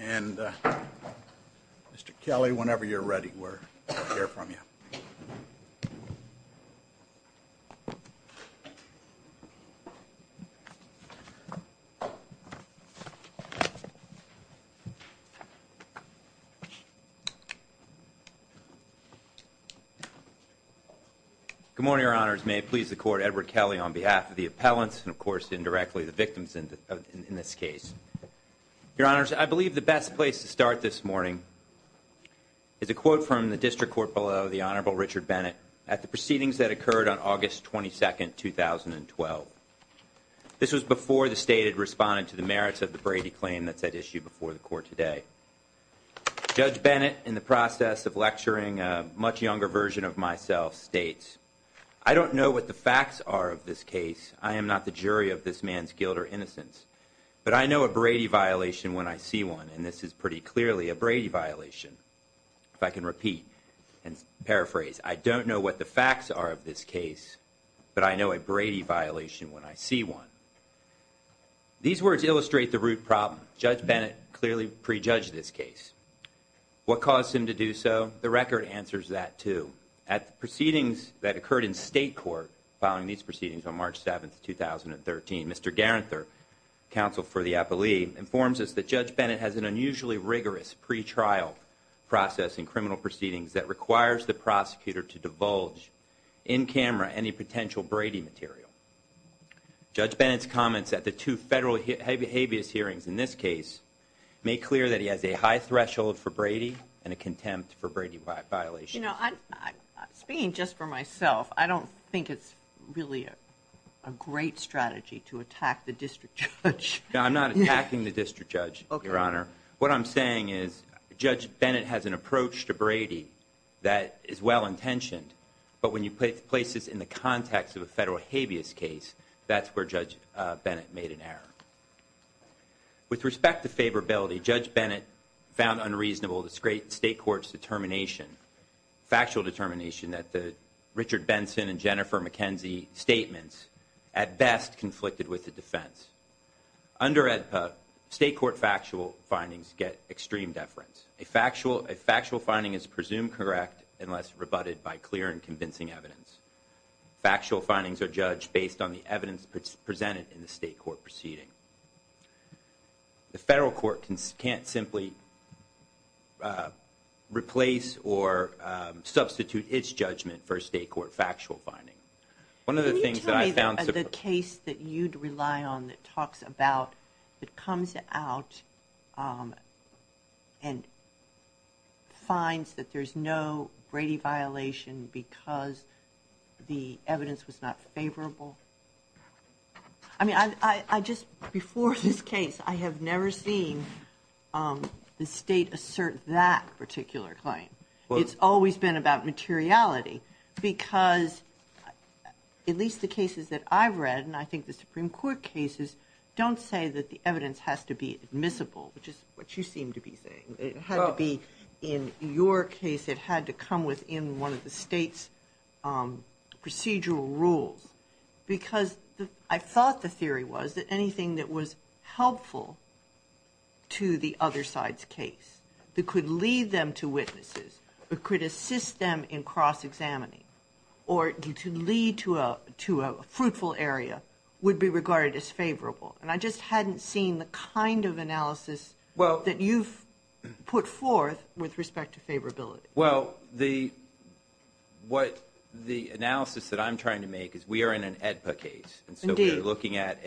and Mr. Kelly, whenever you're ready, we'll hear from you. Good morning, Your Honors. May it please the Court, Edward Kelly on behalf of the appellants and, of course, indirectly the victims in this case. Your Honors, I believe the best place to start this morning is a quote from the District Court below the Honorable Richard Bennett at the proceedings that occurred on August 22, 2012. This was before the State had responded to the merits of the Brady claim that's at issue before the Court today. Judge Bennett, in the process of lecturing, a much younger version of myself, states, I don't know what the facts are of this case. I am not the jury of this man's guilt or innocence. But I know a Brady violation when I see one, and this is pretty clearly a Brady violation. If I can repeat and paraphrase, I don't know what the facts are of this case, but I know a Brady violation when I see one. These words illustrate the root problem. Judge Bennett clearly prejudged this case. What caused him to do so? The record answers that, too. At the proceedings that occurred in State Court following these proceedings on March 7, 2013, Mr. Garenther, counsel for the appellee, informs us that Judge Bennett has an unusually rigorous pre-trial process in criminal proceedings that requires the prosecutor to divulge in camera any potential Brady material. Judge Bennett's comments at the two federal habeas hearings in this case make clear that he has a high threshold for Brady and a contempt for Brady violations. You know, speaking just for myself, I don't think it's really a great strategy to attack the district judge. No, I'm not attacking the district judge, Your Honor. What I'm saying is Judge Bennett has an approach to Brady that is well-intentioned, but when you place this in the context of a federal habeas case, that's where Judge Bennett made an error. With respect to favorability, Judge Bennett found unreasonable the State Court's determination, factual determination, that the Richard Benson and Jennifer McKenzie statements at best conflicted with the defense. Under it, State Court factual findings get extreme deference. A factual finding is presumed correct unless rebutted by clear and convincing evidence. Factual findings are judged based on the evidence presented in the State Court proceeding. The federal court can't simply replace or substitute its judgment for a State Court factual finding. Can you tell me the case that you'd rely on that talks about, that comes out and finds that there's no Brady violation because the evidence was not favorable? I mean, I just before this case, I have never seen the State assert that particular claim. It's always been about materiality because at least the cases that I've read, and I think the Supreme Court cases, don't say that the evidence has to be admissible, which is what you seem to be saying. It had to be in your case. It had to come within one of the State's procedural rules because I thought the theory was that anything that was helpful to the other side's case, that could lead them to witnesses, that could assist them in cross-examining, or to lead to a fruitful area, would be regarded as favorable. And I just hadn't seen the kind of analysis that you've put forth with respect to favorability. Well, the analysis that I'm trying to make is we are in an AEDPA case, and so we're looking at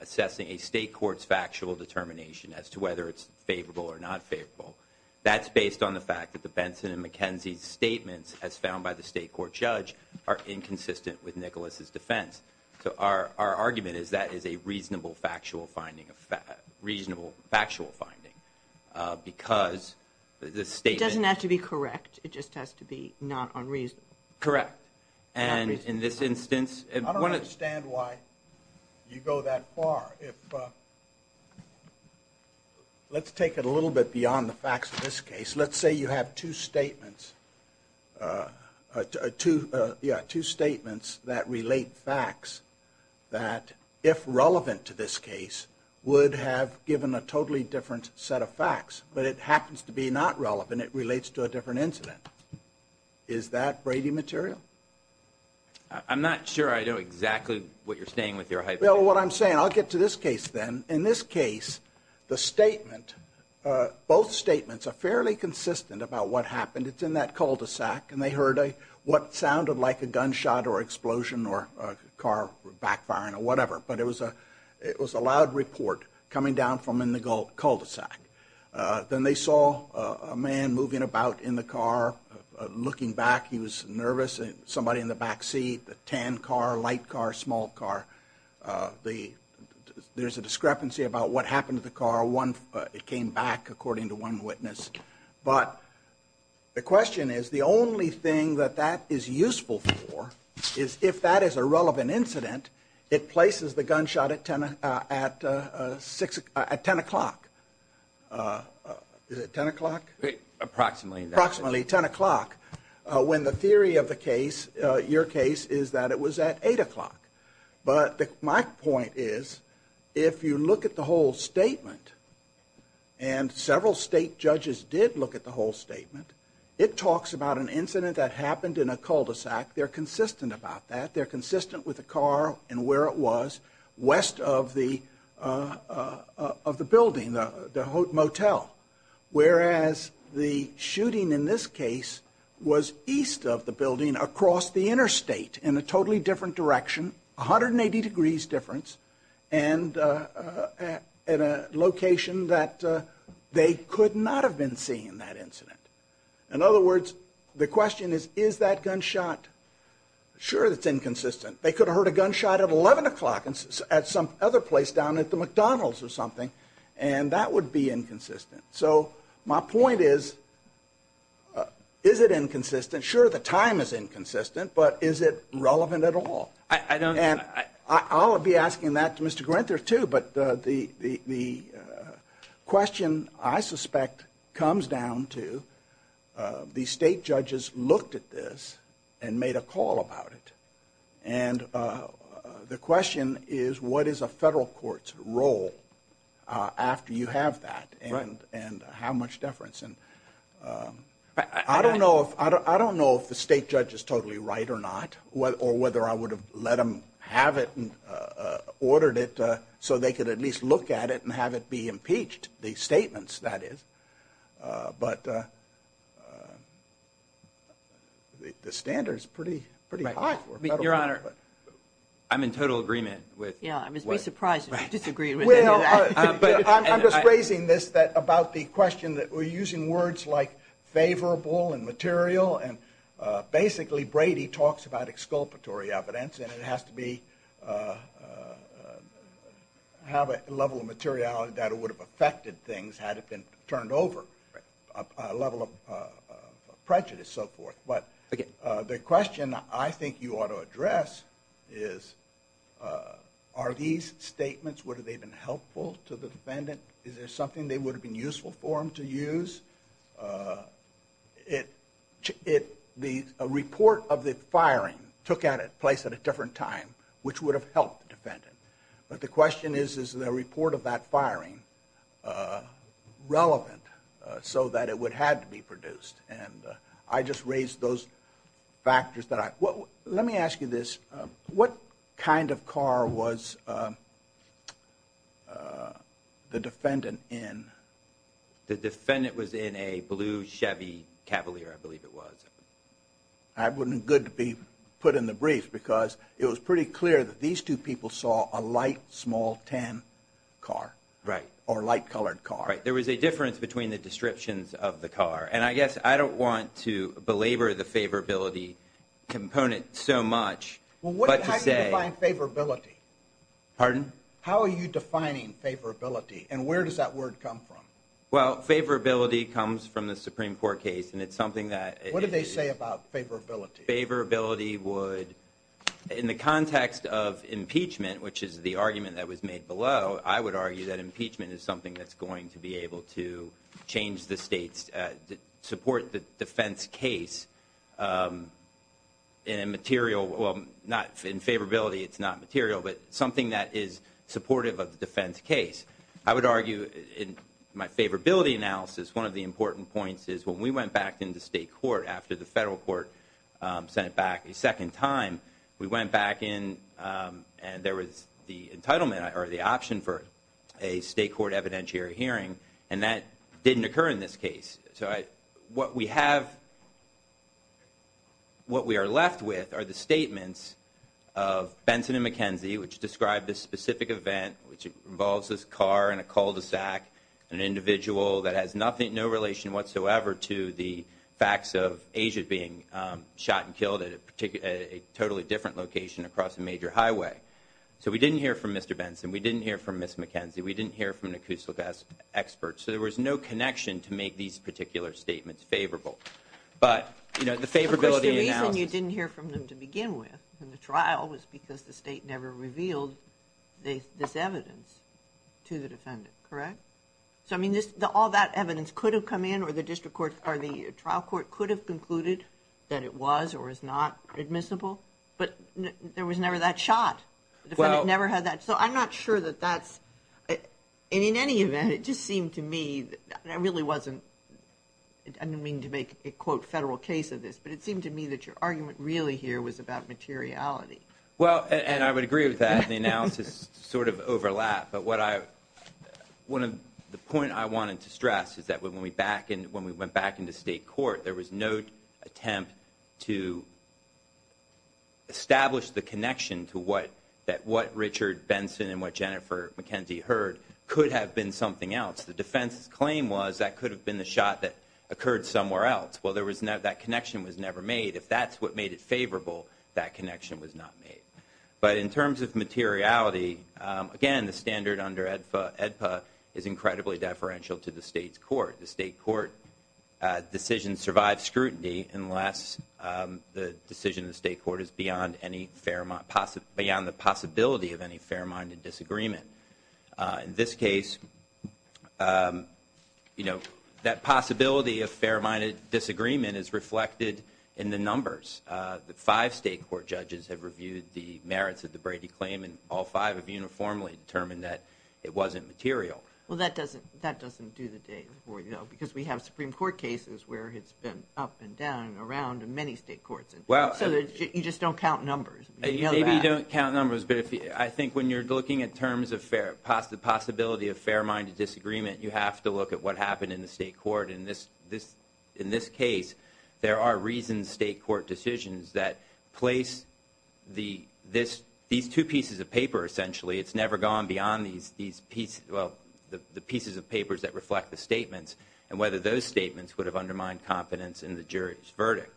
assessing a State court's factual determination as to whether it's favorable or not favorable. That's based on the fact that the Benson and McKenzie's statements, as found by the State court judge, are inconsistent with Nicholas's defense. So our argument is that is a reasonable factual finding. Because the statement... It doesn't have to be correct. It just has to be not unreasonable. Correct. And in this instance... I don't understand why you go that far. Let's take it a little bit beyond the facts of this case. Let's say you have two statements that relate facts that, if relevant to this case, would have given a totally different set of facts. But it happens to be not relevant. It relates to a different incident. Is that Brady material? I'm not sure I know exactly what you're saying with your hypothesis. Well, what I'm saying... I'll get to this case then. In this case, the statement... Both statements are fairly consistent about what happened. It's in that cul-de-sac, and they heard what sounded like a gunshot or explosion or a car backfiring or whatever. But it was a loud report coming down from in the cul-de-sac. Then they saw a man moving about in the car. Looking back, he was nervous. Somebody in the backseat. Tan car, light car, small car. There's a discrepancy about what happened to the car. It came back, according to one witness. But the question is, the only thing that that is useful for is, if that is a relevant incident, it places the gunshot at 10 o'clock. Is it 10 o'clock? Approximately. Approximately 10 o'clock. When the theory of the case, your case, is that it was at 8 o'clock. But my point is, if you look at the whole statement, and several state judges did look at the whole statement, it talks about an incident that happened in a cul-de-sac. They're consistent about that. They're consistent with the car and where it was, west of the building, the motel. Whereas the shooting in this case was east of the building, across the interstate, in a totally different direction, 180 degrees difference, and at a location that they could not have been seeing that incident. In other words, the question is, is that gunshot? Sure, it's inconsistent. They could have heard a gunshot at 11 o'clock at some other place down at the McDonald's or something, and that would be inconsistent. So my point is, is it inconsistent? Sure, the time is inconsistent, but is it relevant at all? I don't... And I'll be asking that to Mr. Grenther too, but the question, I suspect, comes down to the state judges looked at this and made a call about it. And the question is, is it consistent? The question is, what is a federal court's role after you have that, and how much deference? I don't know if the state judge is totally right or not, or whether I would have let them have it and ordered it so they could at least look at it and have it be impeached, the statements that is. But the standard's pretty high for a federal court. I'm in total agreement with... Yeah, I must be surprised if you disagree with any of that. I'm just raising this about the question that we're using words like favorable and material, and basically Brady talks about exculpatory evidence, and it has to have a level of materiality that it would have affected things had it been turned over, a level of prejudice, so what I'm trying to address is, are these statements, would they have been helpful to the defendant? Is there something that would have been useful for them to use? A report of the firing took place at a different time, which would have helped the defendant, but the question is, is the report of that firing relevant so that it would have to be produced? I just raised those factors. Let me ask you this, what kind of car was the defendant in? The defendant was in a blue Chevy Cavalier, I believe it was. I wouldn't good to be put in the brief, because it was pretty clear that these two people saw a light, small, tan car, or light colored car. There was a difference between the descriptions of the car, and I guess I don't want to belabor the favorability component so much, but to say... How do you define favorability? How are you defining favorability, and where does that word come from? Well, favorability comes from the Supreme Court case, and it's something that... What did they say about favorability? Favorability would, in the context of impeachment, which is the argument that was made below, I would argue that impeachment is something that's going to be able to change the state's... Support the defense case in a material... Not in favorability, it's not material, but something that is supportive of the defense case. I would argue, in my favorability analysis, one of the important points is when we went back into state court after the federal court sent it back a second time, we went back in and there was the entitlement, or the option for a state court evidentiary hearing, and that didn't occur in this case. What we have... What we are left with are the statements of Benson and McKenzie, which described this specific event, which involves this car and a cul-de-sac, an individual that has no relation whatsoever to the facts of Asia being shot and killed at a totally different location across a major highway. So we didn't hear from Mr. Benson, we didn't hear from Ms. McKenzie, we didn't hear from the cul-de-sac experts, so there was no connection to make these particular statements favorable. But the favorability analysis... Of course, the reason you didn't hear from them to begin with in the trial was because the state never revealed this evidence to the defendant, correct? So I mean, all that evidence could have come in, or the district court, or the trial court could have concluded that it was or is not admissible, but there was never that shot. The defendant never had that... So I'm not sure that that's... And in any event, it just seemed to me, and I really wasn't... I don't mean to make a, quote, federal case of this, but it seemed to me that your argument really here was about materiality. Well, and I would agree with that, and the analysis sort of overlapped, but one of the points I wanted to stress is that when we went back into state court, there was no attempt to establish the connection to what Richard Benson and what Jennifer McKenzie heard could have been something else. The defense's claim was that could have been the shot that occurred somewhere else. Well, that connection was never made. If that's what made it favorable, that connection was not made. But in terms of materiality, again, the standard under AEDPA is incredibly deferential to the state's court. The state court decision survives scrutiny unless the decision of the state court is beyond the possibility of any fair-minded disagreement. In this case, that possibility of fair-minded disagreement is reflected in the numbers. The five state court judges have reviewed the merits of the Brady claim, and all five have uniformly determined that it wasn't material. Well, that doesn't do the day before, because we have Supreme Court cases where it's been up and down and around in many state courts, so you just don't count numbers. Maybe you don't count numbers, but I think when you're looking at terms of the possibility of fair-minded disagreement, you have to look at what happened in the state court. In this case, there are reasoned state court decisions that place these two pieces of paper, essentially. It's never gone beyond the pieces of papers that reflect the statements, and whether those statements would have undermined confidence in the jury's verdict.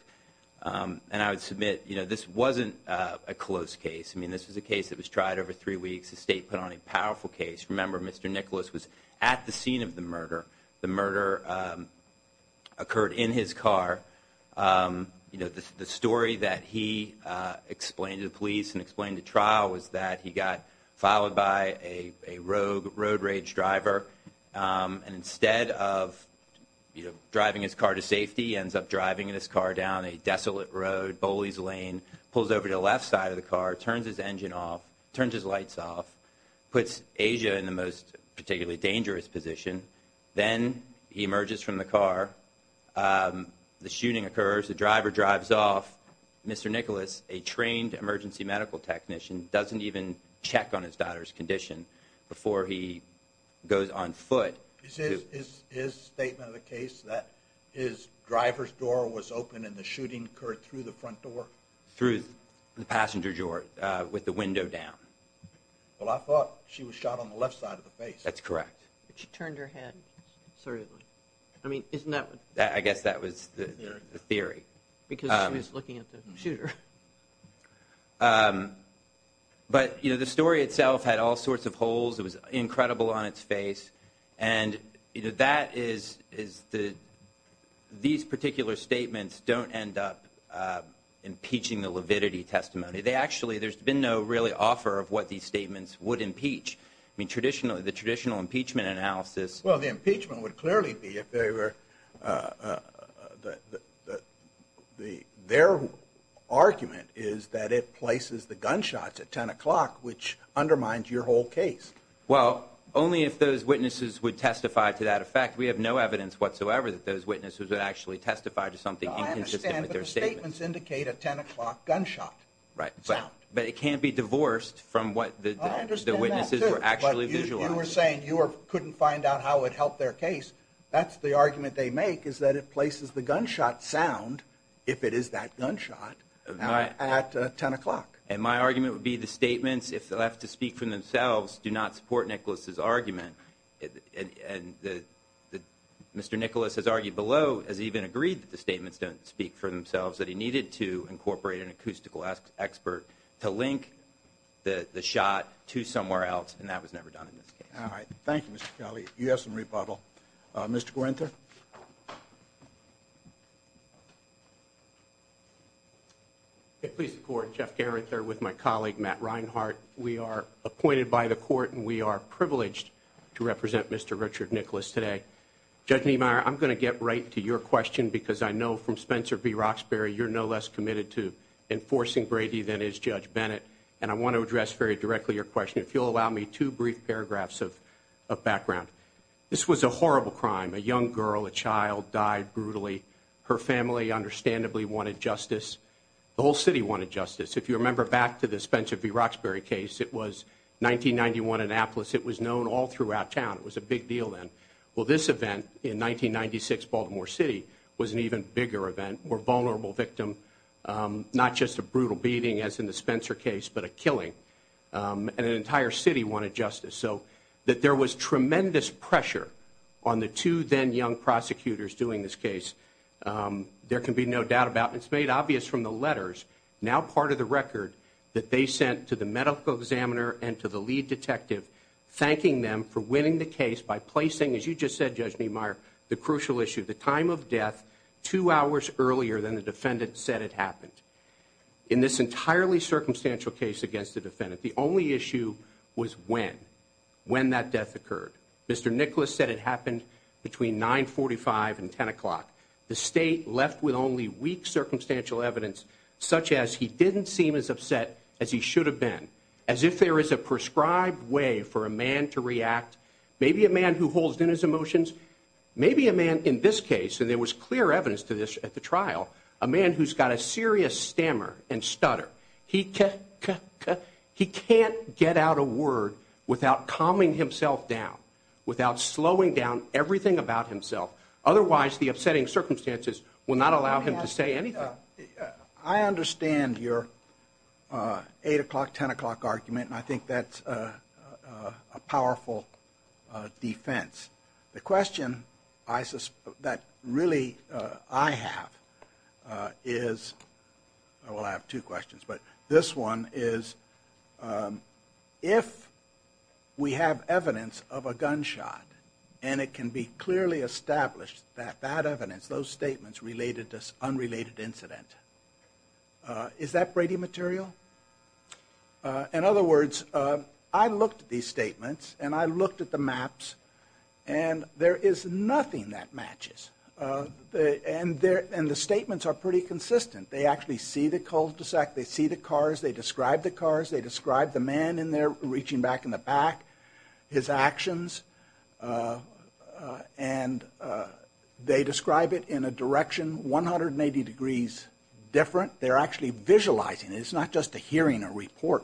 And I would submit this wasn't a close case. This was a case that was tried over three weeks. The state put on a powerful case. Remember, Mr. Nicholas was at the scene of the murder. The murder occurred in his car. The story that he explained to the police and explained to trial was that he got followed by a rogue road rage driver, and instead of driving his car to safety, ends up driving his car down a desolate road, bullies lane, pulls over to the left side of the car, turns his engine off, turns his lights off, puts Asia in the most particularly dangerous position. Then he emerges from the car. The shooting occurs. The driver drives off. Mr. Nicholas, a trained emergency medical technician, doesn't even check on his daughter's condition before he goes on foot. Is his statement of the case that his driver's door was open and the shooting occurred through the front door? Through the passenger door with the window down? Well, I thought she was shot on the left side of the face. That's correct. She turned her head. I mean, isn't that what? I guess that was the theory. Because she was looking at the shooter. But you know, the story itself had all sorts of holes. It was incredible on its face. And, you know, that is the, these particular statements don't end up impeaching the Levitity testimony. They actually, there's been no really offer of what these statements would impeach. I mean, traditionally, the traditional impeachment analysis. Well, the impeachment would clearly be if they were, their argument is that it places the gunshots at 10 o'clock, which undermines your whole case. Well, only if those witnesses would testify to that effect. We have no evidence whatsoever that those witnesses would actually testify to something I understand, but the statements indicate a 10 o'clock gunshot sound. Right. But it can't be divorced from what the witnesses were actually visualizing. I understand that, too. But you were saying you couldn't find out how it helped their case. That's the argument they make is that it places the gunshot sound, if it is that gunshot, at 10 o'clock. And my argument would be the statements, if they'll have to speak for themselves, do not support Nicholas's argument. And Mr. Nicholas has argued below, has even agreed that the statements don't speak for themselves, that he needed to incorporate an acoustical expert to link the shot to somewhere else. And that was never done in this case. All right. Thank you, Mr. Kelly. You have some rebuttal. Mr. Guenter. Please support Jeff Garrett there with my colleague, Matt Reinhart. We are appointed by the court, and we are privileged to represent Mr. Richard Nicholas today. Judge Niemeyer, I'm going to get right to your question, because I know from Spencer v. Roxbury, you're no less committed to enforcing Brady than is Judge Bennett. And I want to address very directly your question, if you'll allow me two brief paragraphs of background. This was a horrible crime. A young girl, a child, died brutally. Her family, understandably, wanted justice. The whole city wanted justice. If you remember back to the Spencer v. Roxbury case, it was 1991 in Annapolis. It was known all throughout town. It was a big deal then. Well, this event in 1996, Baltimore City, was an even bigger event. More vulnerable victim. Not just a brutal beating, as in the Spencer case, but a killing. And an entire city wanted justice. So that there was tremendous pressure on the two then young prosecutors doing this case. There can be no doubt about it. It's made obvious from the letters, now part of the record, that they sent to the medical examiner and to the lead detective, thanking them for winning the case by placing, as you just said, Judge Niemeyer, the crucial issue, the time of death, two hours earlier than the defendant said it happened. In this entirely circumstantial case against the defendant, the only issue was when. When that death occurred. Mr. Nicholas said it happened between 9.45 and 10 o'clock. The state left with only weak circumstantial evidence, such as he didn't seem as upset as he should have been. As if there is a prescribed way for a man to react. Maybe a man who holds in his emotions. Maybe a man, in this case, and there was clear evidence to this at the trial, a man who's got a serious stammer and stutter. He can't get out a word without calming himself down, without slowing down everything about himself. Otherwise, the upsetting circumstances will not allow him to say anything. I understand your 8 o'clock, 10 o'clock argument, and I think that's a powerful defense. The question that really I have is, well I have two questions, but this one is, if we have evidence of a gunshot, and it can be clearly established that that evidence, those statements related to this unrelated incident. Is that Brady material? Well, in other words, I looked at these statements, and I looked at the maps, and there is nothing that matches. And the statements are pretty consistent. They actually see the cul-de-sac, they see the cars, they describe the cars, they describe the man in there reaching back in the back, his actions. And they describe it in a direction 180 degrees different. They're actually visualizing it, it's not just a hearing a report,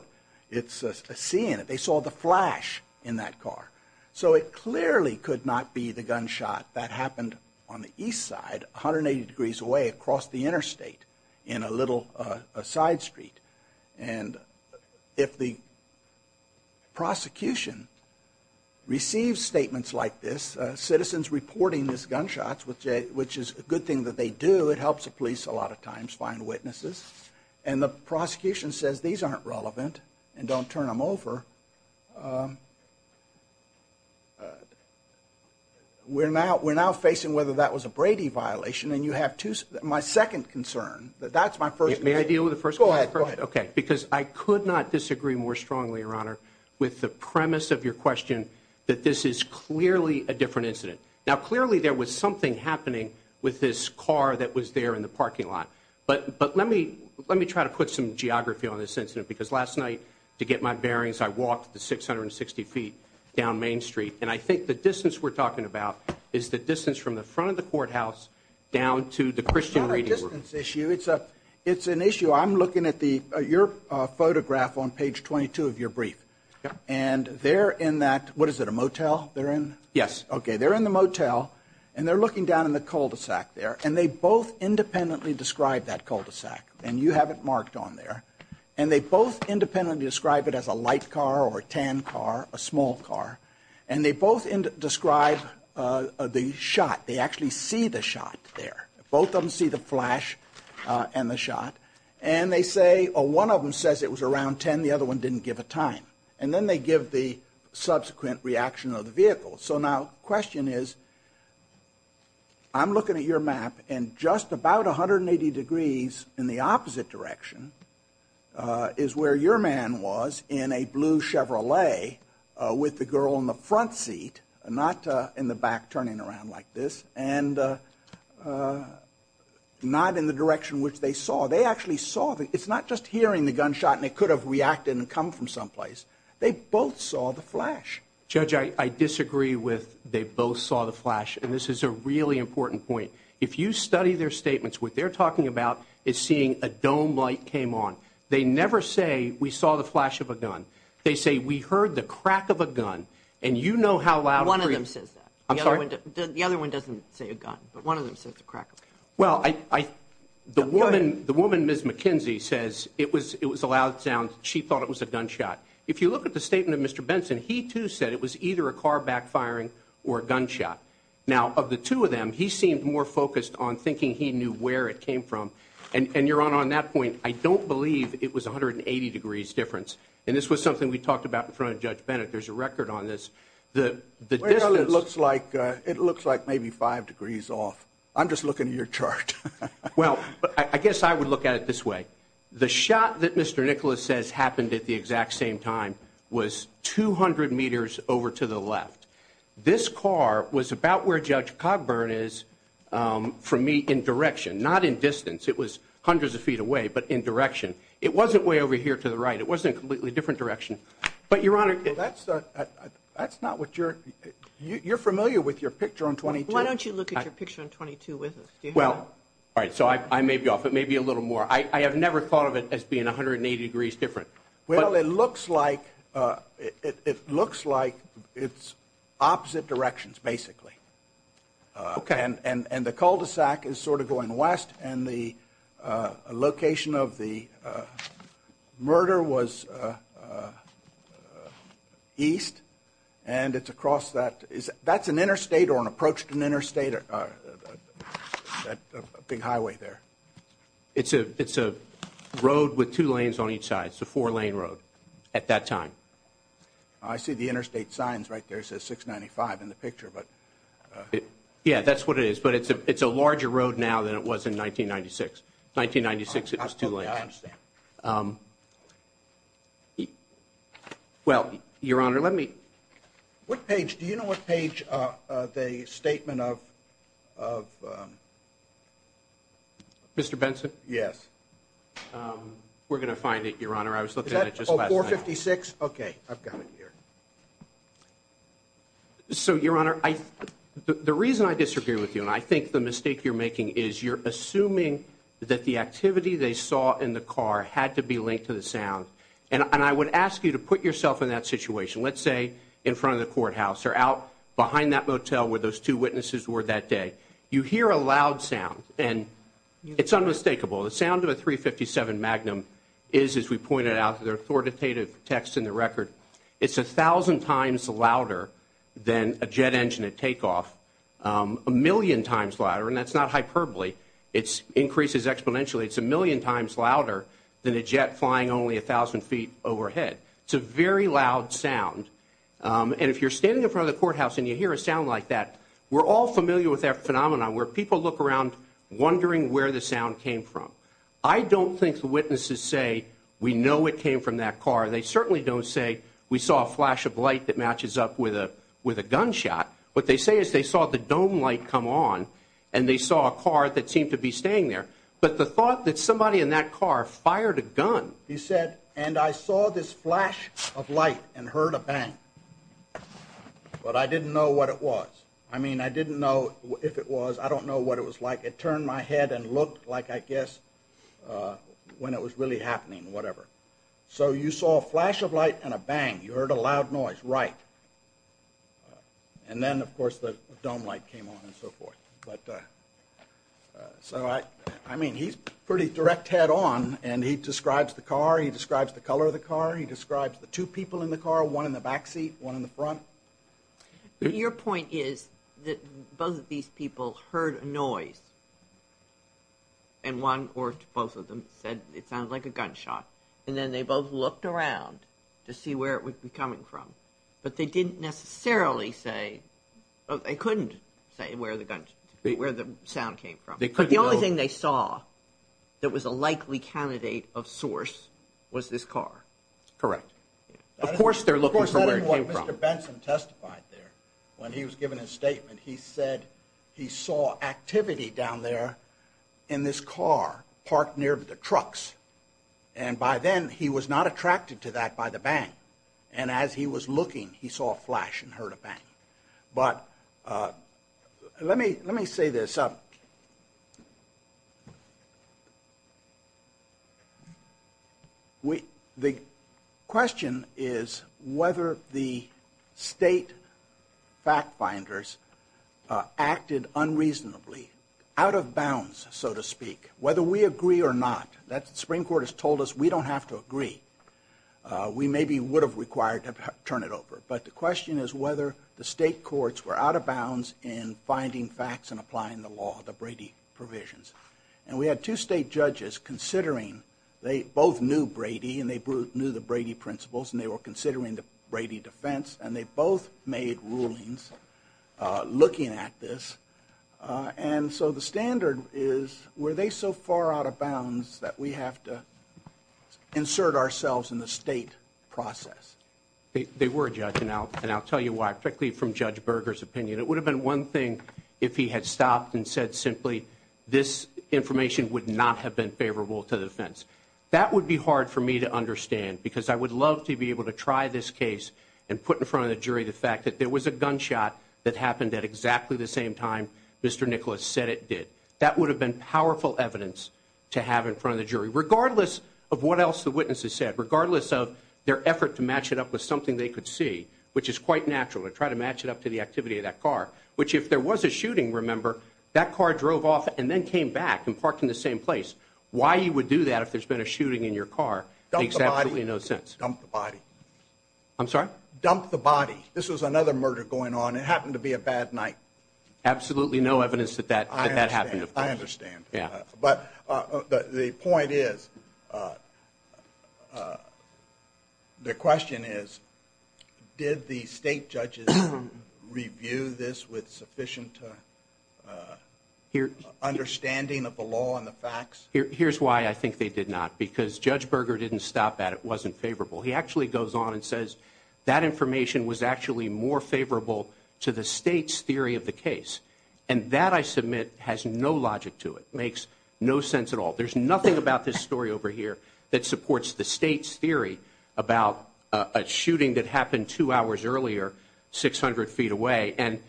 it's a seeing it. They saw the flash in that car. So it clearly could not be the gunshot that happened on the east side, 180 degrees away across the interstate, in a little side street. And if the prosecution receives statements like this, citizens reporting these gunshots, which is a good thing that they do, it helps the police a lot of times find witnesses, and the prosecution says these aren't relevant, and don't turn them over, we're now facing whether that was a Brady violation, and you have two, my second concern, that that's my first concern. May I deal with the first question? Go ahead, go ahead. Okay, because I could not disagree more strongly, your honor, with the premise of your question that this is clearly a different incident. Now clearly there was something happening with this car that was there in the parking lot, but let me try to put some geography on this incident, because last night, to get my bearings, I walked the 660 feet down Main Street, and I think the distance we're talking about is the distance from the front of the courthouse, down to the Christian Reading Room. It's not a distance issue, it's an issue, I'm looking at your photograph on page 22 of your brief, and they're in that, what is it, a motel they're in? Yes. Okay, they're in the motel, and they're looking down in the cul-de-sac there, and they both independently describe that cul-de-sac, and you have it marked on there, and they both independently describe it as a light car or a tan car, a small car, and they both describe the shot, they actually see the shot there, both of them see the flash and the shot, and they say, one of them says it was around 10, the other one didn't give a time, and then they give the subsequent reaction of the vehicle. So now, the question is, I'm looking at your map, and just about 180 degrees in the opposite direction is where your man was in a blue Chevrolet with the girl in the front seat, not in the back turning around like this, and not in the direction which they saw. They actually saw, it's not just hearing the gunshot and it could have reacted and come from someplace, they both saw the flash. Judge, I disagree with they both saw the flash, and this is a really important point. If you study their statements, what they're talking about is seeing a dome light came on. They never say, we saw the flash of a gun. They say, we heard the crack of a gun, and you know how loud... One of them says that. I'm sorry? The other one doesn't say a gun, but one of them says the crack of a gun. Well, I... Go ahead. The woman, Ms. McKenzie, says it was a loud sound, she thought it was a gunshot. If you look at the statement of Mr. Benson, he too said it was either a car backfiring or a gunshot. Now, of the two of them, he seemed more focused on thinking he knew where it came from, and you're on that point. I don't believe it was 180 degrees difference, and this was something we talked about in front of Judge Bennett. There's a record on this. The distance... Well, it looks like maybe five degrees off. I'm just looking at your chart. Well, I guess I would look at it this way. The shot that Mr. Nicholas says happened at the exact same time was 200 meters over to the left. This car was about where Judge Cogburn is, for me, in direction, not in distance. It was hundreds of feet away, but in direction. It wasn't way over here to the right. It wasn't a completely different direction. But Your Honor... Well, that's not what you're... You're familiar with your picture on 22. Why don't you look at your picture on 22 with us? Do you have it? All right, so I may be off. It may be a little more. I have never thought of it as being 180 degrees different. Well, it looks like it's opposite directions, basically. And the cul-de-sac is sort of going west, and the location of the murder was east. And it's across that... That's an interstate or an approach to an interstate, that big highway there. It's a road with two lanes on each side. It's a four-lane road at that time. I see the interstate signs right there. It says 695 in the picture, but... Yeah, that's what it is. But it's a larger road now than it was in 1996. 1996, it was two lanes. I understand. Well, Your Honor, let me... What page... Do you know what page the statement of... Mr. Benson? Yes. We're going to find it, Your Honor. I was looking at it just last night. Is that 456? Okay, I've got it here. So Your Honor, the reason I disagree with you, and I think the mistake you're making is you're assuming that the activity they saw in the car had to be linked to the sound. And I would ask you to put yourself in that situation. Let's say in front of the courthouse or out behind that motel where those two witnesses were that day. You hear a loud sound, and it's unmistakable. The sound of a 357 Magnum is, as we pointed out, the authoritative text in the record. It's 1,000 times louder than a jet engine at takeoff, a million times louder, and that's not hyperbole. It increases exponentially. It's a million times louder than a jet flying only 1,000 feet overhead. It's a very loud sound, and if you're standing in front of the courthouse and you hear a sound like that, we're all familiar with that phenomenon where people look around wondering where the sound came from. I don't think the witnesses say, we know it came from that car. They certainly don't say, we saw a flash of light that matches up with a gunshot. What they say is they saw the dome light come on, and they saw a car that seemed to be staying But the thought that somebody in that car fired a gun. He said, and I saw this flash of light and heard a bang, but I didn't know what it was. I mean, I didn't know if it was. I don't know what it was like. It turned my head and looked like, I guess, when it was really happening, whatever. So you saw a flash of light and a bang. You heard a loud noise, right. And then, of course, the dome light came on and so forth. But so I mean, he's pretty direct head on and he describes the car. He describes the color of the car. He describes the two people in the car, one in the backseat, one in the front. Your point is that both of these people heard a noise and one or both of them said it sounds like a gunshot. And then they both looked around to see where it would be coming from. But they didn't necessarily say they couldn't say where the gun where the sound came from. But the only thing they saw that was a likely candidate of source was this car. Correct. Of course, they're looking for what Mr. Benson testified there when he was given his statement. He said he saw activity down there in this car parked near the trucks. And by then, he was not attracted to that by the bang. And as he was looking, he saw a flash and heard a bang. But let me let me say this. We the question is whether the state fact finders acted unreasonably out of bounds, so to speak, whether we agree or not, that the Supreme Court has told us we don't have to agree. We maybe would have required to turn it over. But the question is whether the state courts were out of bounds in finding facts and applying the law, the Brady provisions. And we had two state judges considering they both knew Brady and they knew the Brady principles and they were considering the Brady defense. And they both made rulings looking at this. And so the standard is, were they so far out of bounds that we have to insert ourselves in the state process? They were a judge. And I'll and I'll tell you why, particularly from Judge Berger's opinion. It would have been one thing if he had stopped and said simply this information would not have been favorable to the defense. That would be hard for me to understand because I would love to be able to try this case and put in front of the jury the fact that there was a gunshot that happened at exactly the same time Mr. Nicholas said it did. That would have been powerful evidence to have in front of the jury, regardless of what else the witnesses said, regardless of their effort to match it up with something they could see, which is quite natural to try to match it up to the activity of that car, which if there was a shooting, remember that car drove off and then came back and parked in the same place. Why you would do that if there's been a shooting in your car makes absolutely no sense. Dump the body. I'm sorry? Dump the body. This was another murder going on. It happened to be a bad night. Absolutely no evidence that that that happened. I understand. Yeah, but the point is. The question is, did the state judges review this with sufficient understanding of the law and the facts? Here's why I think they did not because Judge Berger didn't stop at it wasn't favorable. He actually goes on and says that information was actually more favorable to the state's theory of the case, and that I submit has no logic to it. Makes no sense at all. There's nothing about this story over here that supports the state's theory about a shooting that happened two hours earlier, 600 feet away. And,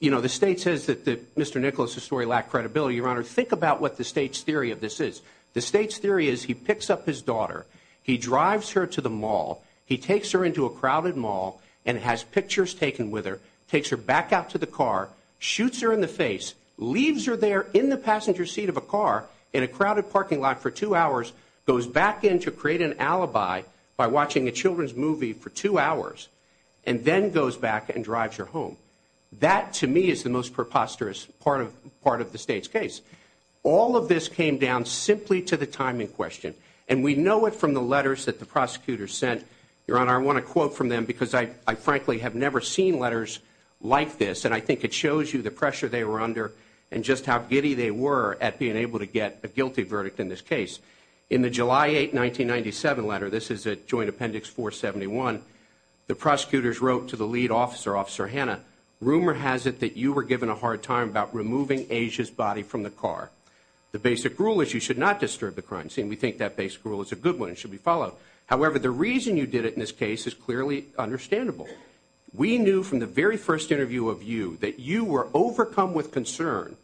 you know, the state says that Mr. Nicholas's story lacked credibility. Your Honor, think about what the state's theory of this is. The state's theory is he picks up his daughter. He drives her to the mall. He takes her into a crowded mall and has pictures taken with her. Takes her back out to the car, shoots her in the face, leaves her there in the passenger seat of a car in a crowded parking lot for two hours, goes back in to create an alibi by watching a children's movie for two hours, and then goes back and drives her home. That, to me, is the most preposterous part of part of the state's case. All of this came down simply to the timing question. And we know it from the letters that the prosecutors sent. Your Honor, I want to quote from them because I frankly have never seen letters like this. And I think it shows you the pressure they were under and just how giddy they were at being able to get a guilty verdict in this case. In the July 8, 1997 letter, this is at Joint Appendix 471, the prosecutors wrote to the lead officer, Officer Hanna, rumor has it that you were given a hard time about removing Asia's body from the car. The basic rule is you should not disturb the crime scene. We think that basic rule is a good one and should be followed. However, the reason you did it in this case is clearly understandable. We knew from the very first interview of you that you were overcome with concern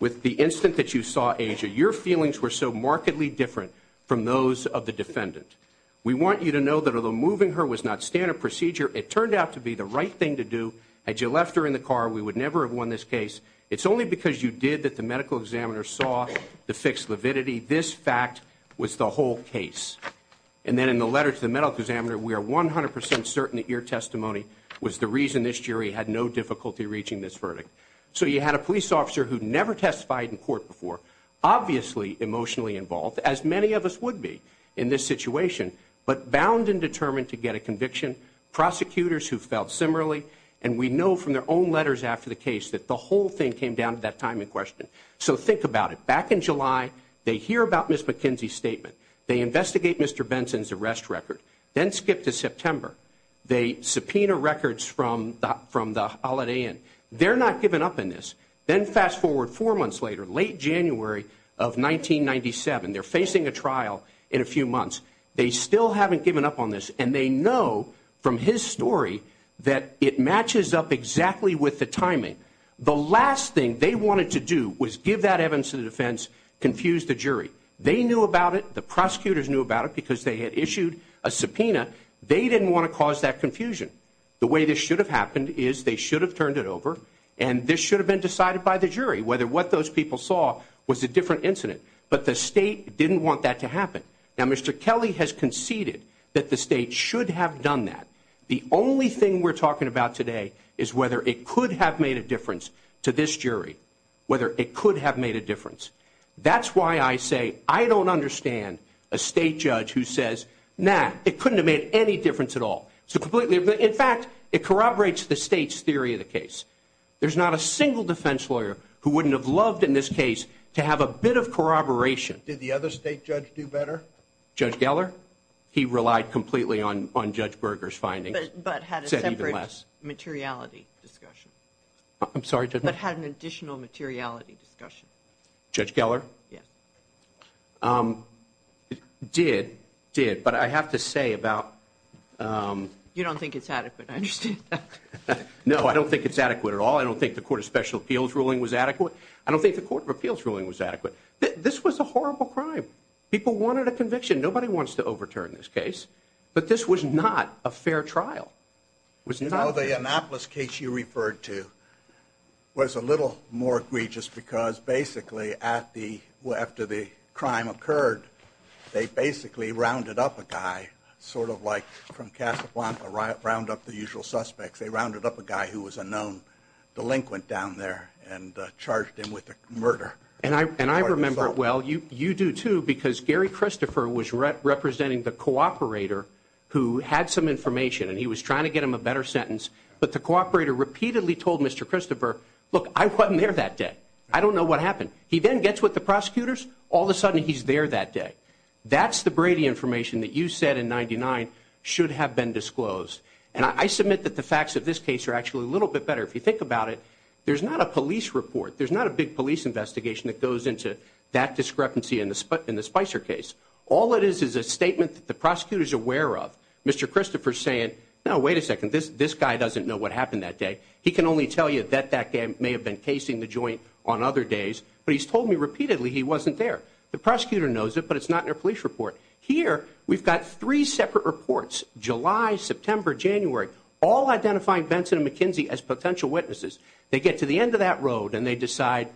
with the instant that you saw Asia. Your feelings were so markedly different from those of the defendant. We want you to know that although moving her was not standard procedure, it turned out to be the right thing to do. Had you left her in the car, we would never have won this case. It's only because you did that the medical examiner saw the fixed lividity. This fact was the whole case. And then in the letter to the medical examiner, we are 100% certain that your testimony was the reason this jury had no difficulty reaching this verdict. So you had a police officer who never testified in court before, obviously emotionally involved, as many of us would be in this situation, but bound and determined to get a conviction. Prosecutors who felt similarly, and we know from their own letters after the case that the whole thing came down to that timing question. So think about it. Back in July, they hear about Ms. McKenzie's statement. They investigate Mr. Benson's arrest record. Then skip to September. They subpoena records from the Holiday Inn. They're not giving up in this. Then fast forward four months later, late January of 1997, they're facing a trial in a few months. They still haven't given up on this. And they know from his story that it matches up exactly with the timing. The last thing they wanted to do was give that evidence to the defense, confuse the jury. They knew about it. The prosecutors knew about it because they had issued a subpoena. They didn't want to cause that confusion. The way this should have happened is they should have turned it over. And this should have been decided by the jury, whether what those people saw was a different incident. But the state didn't want that to happen. Now, Mr. Kelly has conceded that the state should have done that. The only thing we're talking about today is whether it could have made a difference to this jury, whether it could have made a difference. That's why I say I don't understand a state judge who says, nah, it couldn't have made any difference at all. So completely, in fact, it corroborates the state's theory of the case. There's not a single defense lawyer who wouldn't have loved in this case to have a bit of corroboration. Did the other state judge do better? Judge Geller? He relied completely on Judge Berger's findings. But had a separate materiality discussion. I'm sorry, Judge? But had an additional materiality discussion. Judge Geller? Yes. Did, did. But I have to say about... You don't think it's adequate, I understand. No, I don't think it's adequate at all. I don't think the Court of Special Appeals ruling was adequate. This was a horrible crime. People wanted a conviction. Nobody wants to overturn this case. But this was not a fair trial. You know, the Annapolis case you referred to was a little more egregious because basically at the, after the crime occurred, they basically rounded up a guy, sort of like from Casablanca, round up the usual suspects. They rounded up a guy who was a known delinquent down there and charged him with murder. And I, and I remember it well. You, you do too because Gary Christopher was representing the cooperator who had some information and he was trying to get him a better sentence. But the cooperator repeatedly told Mr. Christopher, look, I wasn't there that day. I don't know what happened. He then gets with the prosecutors. All of a sudden, he's there that day. That's the Brady information that you said in 99 should have been disclosed. And I submit that the facts of this case are actually a little bit better. If you think about it, there's not a police report. There's not a big police investigation that goes into that discrepancy in the Spicer case. All it is, is a statement that the prosecutor's aware of. Mr. Christopher's saying, no, wait a second. This guy doesn't know what happened that day. He can only tell you that that guy may have been casing the joint on other days. But he's told me repeatedly he wasn't there. The prosecutor knows it, but it's not in a police report. Here, we've got three separate reports, July, September, January, all identifying Benson and McKinsey as potential witnesses. They get to the end of that road, and they decide,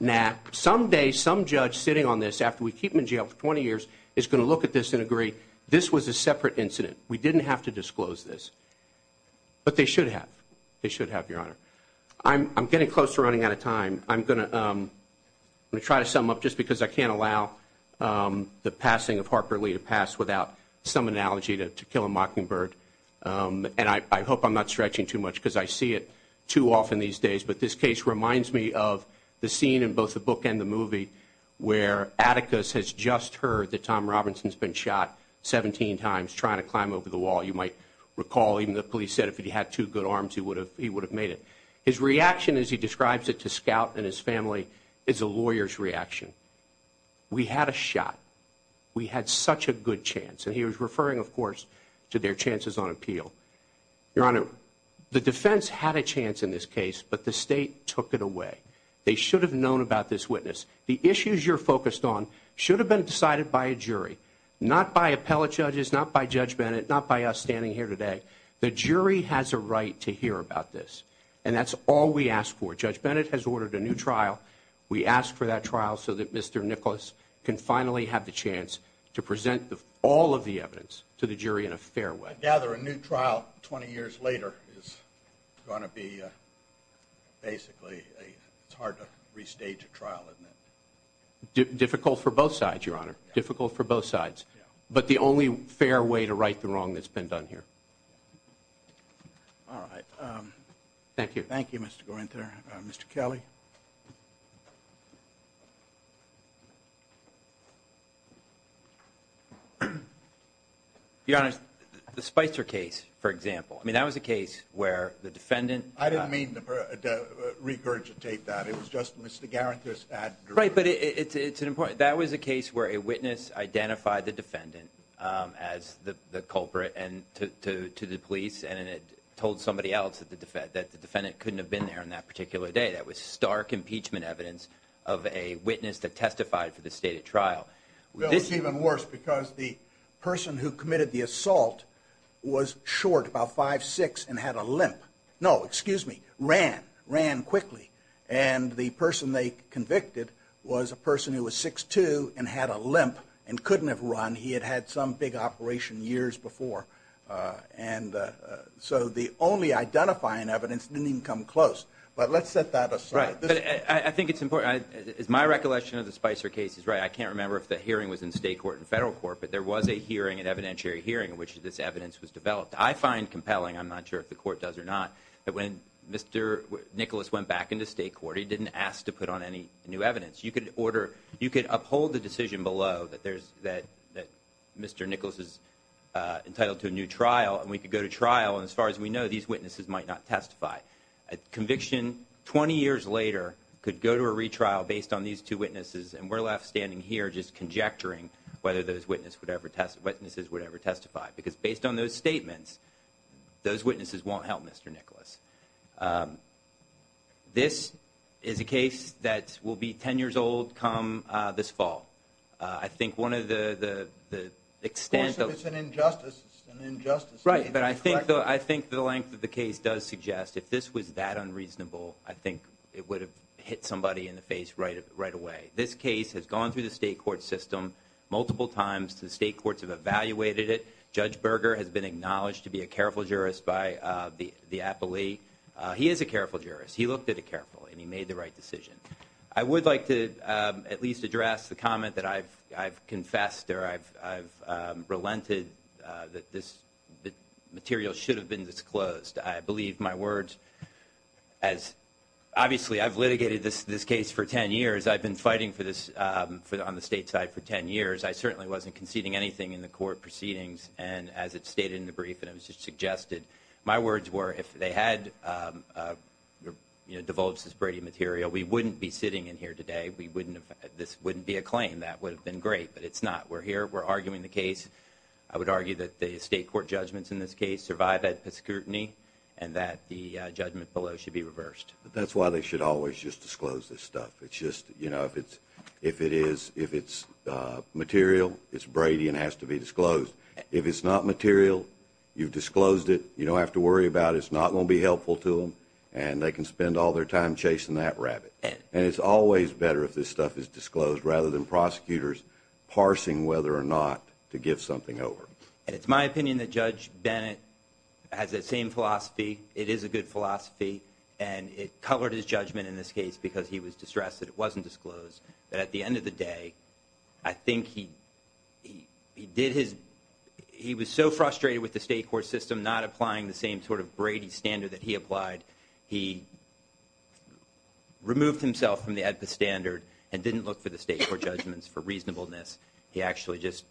nah, someday, some judge sitting on this after we keep him in jail for 20 years is going to look at this and agree, this was a separate incident. We didn't have to disclose this. But they should have. They should have, Your Honor. I'm getting close to running out of time. I'm going to try to sum up, just because I can't allow the passing of Harper Lee to pass without some analogy to kill a mockingbird. And I hope I'm not stretching too much, because I see it too often these days. But this case reminds me of the scene in both the book and the movie where Atticus has just heard that Tom Robinson's been shot 17 times trying to climb over the wall. You might recall, even the police said if he had two good arms, he would have made it. His reaction, as he describes it to Scout and his family, is a lawyer's reaction. We had a shot. We had such a good chance. He was referring, of course, to their chances on appeal. Your Honor, the defense had a chance in this case, but the state took it away. They should have known about this witness. The issues you're focused on should have been decided by a jury, not by appellate judges, not by Judge Bennett, not by us standing here today. The jury has a right to hear about this. And that's all we ask for. Judge Bennett has ordered a new trial. We ask for that trial so that Mr. Nicholas can finally have the chance to present all of the evidence to the jury in a fair way. I gather a new trial 20 years later is going to be, basically, it's hard to restage a trial, isn't it? Difficult for both sides, Your Honor. Difficult for both sides. But the only fair way to right the wrong that's been done here. All right. Thank you. Thank you, Mr. Guenther. Mr. Kelly? Your Honor, the Spicer case, for example. I mean, that was a case where the defendant- I didn't mean to regurgitate that. It was just Mr. Guenther's ad- Right, but it's an important- That was a case where a witness identified the defendant as the culprit to the police, and it told somebody else that the defendant couldn't have been there on that particular day. That was stark impeachment evidence of a witness that testified for the stated trial. Well, it's even worse because the person who committed the assault was short, about 5'6", and had a limp. No, excuse me, ran. Ran quickly. And the person they convicted was a person who was 6'2", and had a limp, and couldn't have run. He had had some big operation years before. And so the only identifying evidence didn't even come close. But let's set that aside. Right. I think it's important. Is my recollection of the Spicer case is right. I can't remember if the hearing was in state court and federal court, but there was a hearing, an evidentiary hearing, in which this evidence was developed. I find compelling, I'm not sure if the court does or not, that when Mr. Nicholas went back into state court, he didn't ask to put on any new evidence. You could order- you could uphold the decision below that there's- that Mr. Nicholas is entitled to a new trial, and we could go to trial, and as far as we know, these witnesses might not testify. A conviction 20 years later could go to a retrial based on these two witnesses, and we're left standing here just conjecturing whether those witnesses would ever testify. Because based on those statements, those witnesses won't help Mr. Nicholas. This is a case that will be 10 years old come this fall. I think one of the extent of- Of course if it's an injustice, it's an injustice. Right, but I think the length of the case does suggest if this was that unreasonable, I think it would have hit somebody in the face right away. This case has gone through the state court system multiple times. The state courts have evaluated it. Judge Berger has been acknowledged to be a careful jurist by the appellee. He is a careful jurist. He looked at it carefully, and he made the right decision. I would like to at least address the comment that I've confessed or I've relented that this material should have been disclosed. I believe my words as- obviously I've litigated this case for 10 years. I've been fighting for this on the state side for 10 years. I certainly wasn't conceding anything in the court proceedings. And as it stated in the brief, and it was just suggested, my words were if they had divulged this Brady material, we wouldn't be sitting in here today. We wouldn't have- this wouldn't be a claim. That would have been great, but it's not. We're here. We're arguing the case. I would argue that the state court judgments in this case survived that scrutiny, and that the judgment below should be reversed. That's why they should always just disclose this stuff. It's just, you know, if it's material, it's Brady and has to be disclosed. If it's not material, you've disclosed it. You don't have to worry about it. It's not going to be helpful to them, and they can spend all their time chasing that rabbit. And it's always better if this stuff is disclosed rather than prosecutors parsing whether or not to give something over. And it's my opinion that Judge Bennett has that same philosophy. It is a good philosophy. And it colored his judgment in this case because he was distressed that it wasn't disclosed. But at the end of the day, I think he did his- he was so frustrated with the state court system not applying the same sort of Brady standard that he applied, he removed himself from the AEDPA standard and didn't look for the state court judgments for reasonableness. He actually just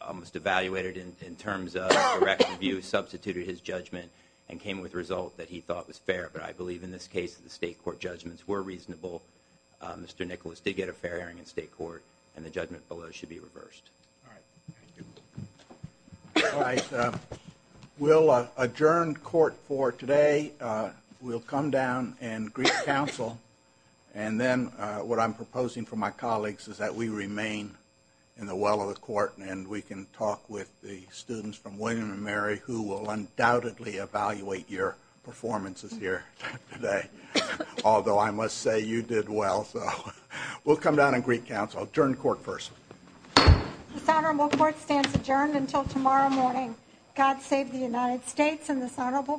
almost evaluated in terms of direct review, substituted his judgment, and came with a result that he thought was fair. But I believe in this case, the state court judgments were reasonable. Mr. Nicholas did get a fair hearing in state court, and the judgment below should be reversed. All right. All right. We'll adjourn court for today. We'll come down and greet counsel. And then what I'm proposing for my colleagues is that we remain in the well of the court, and we can talk with the students from William & Mary who will undoubtedly evaluate your performances here today. Although I must say you did well. So we'll come down and greet counsel. Adjourn court first. This honorable court stands adjourned until tomorrow morning. God save the United States and this honorable court.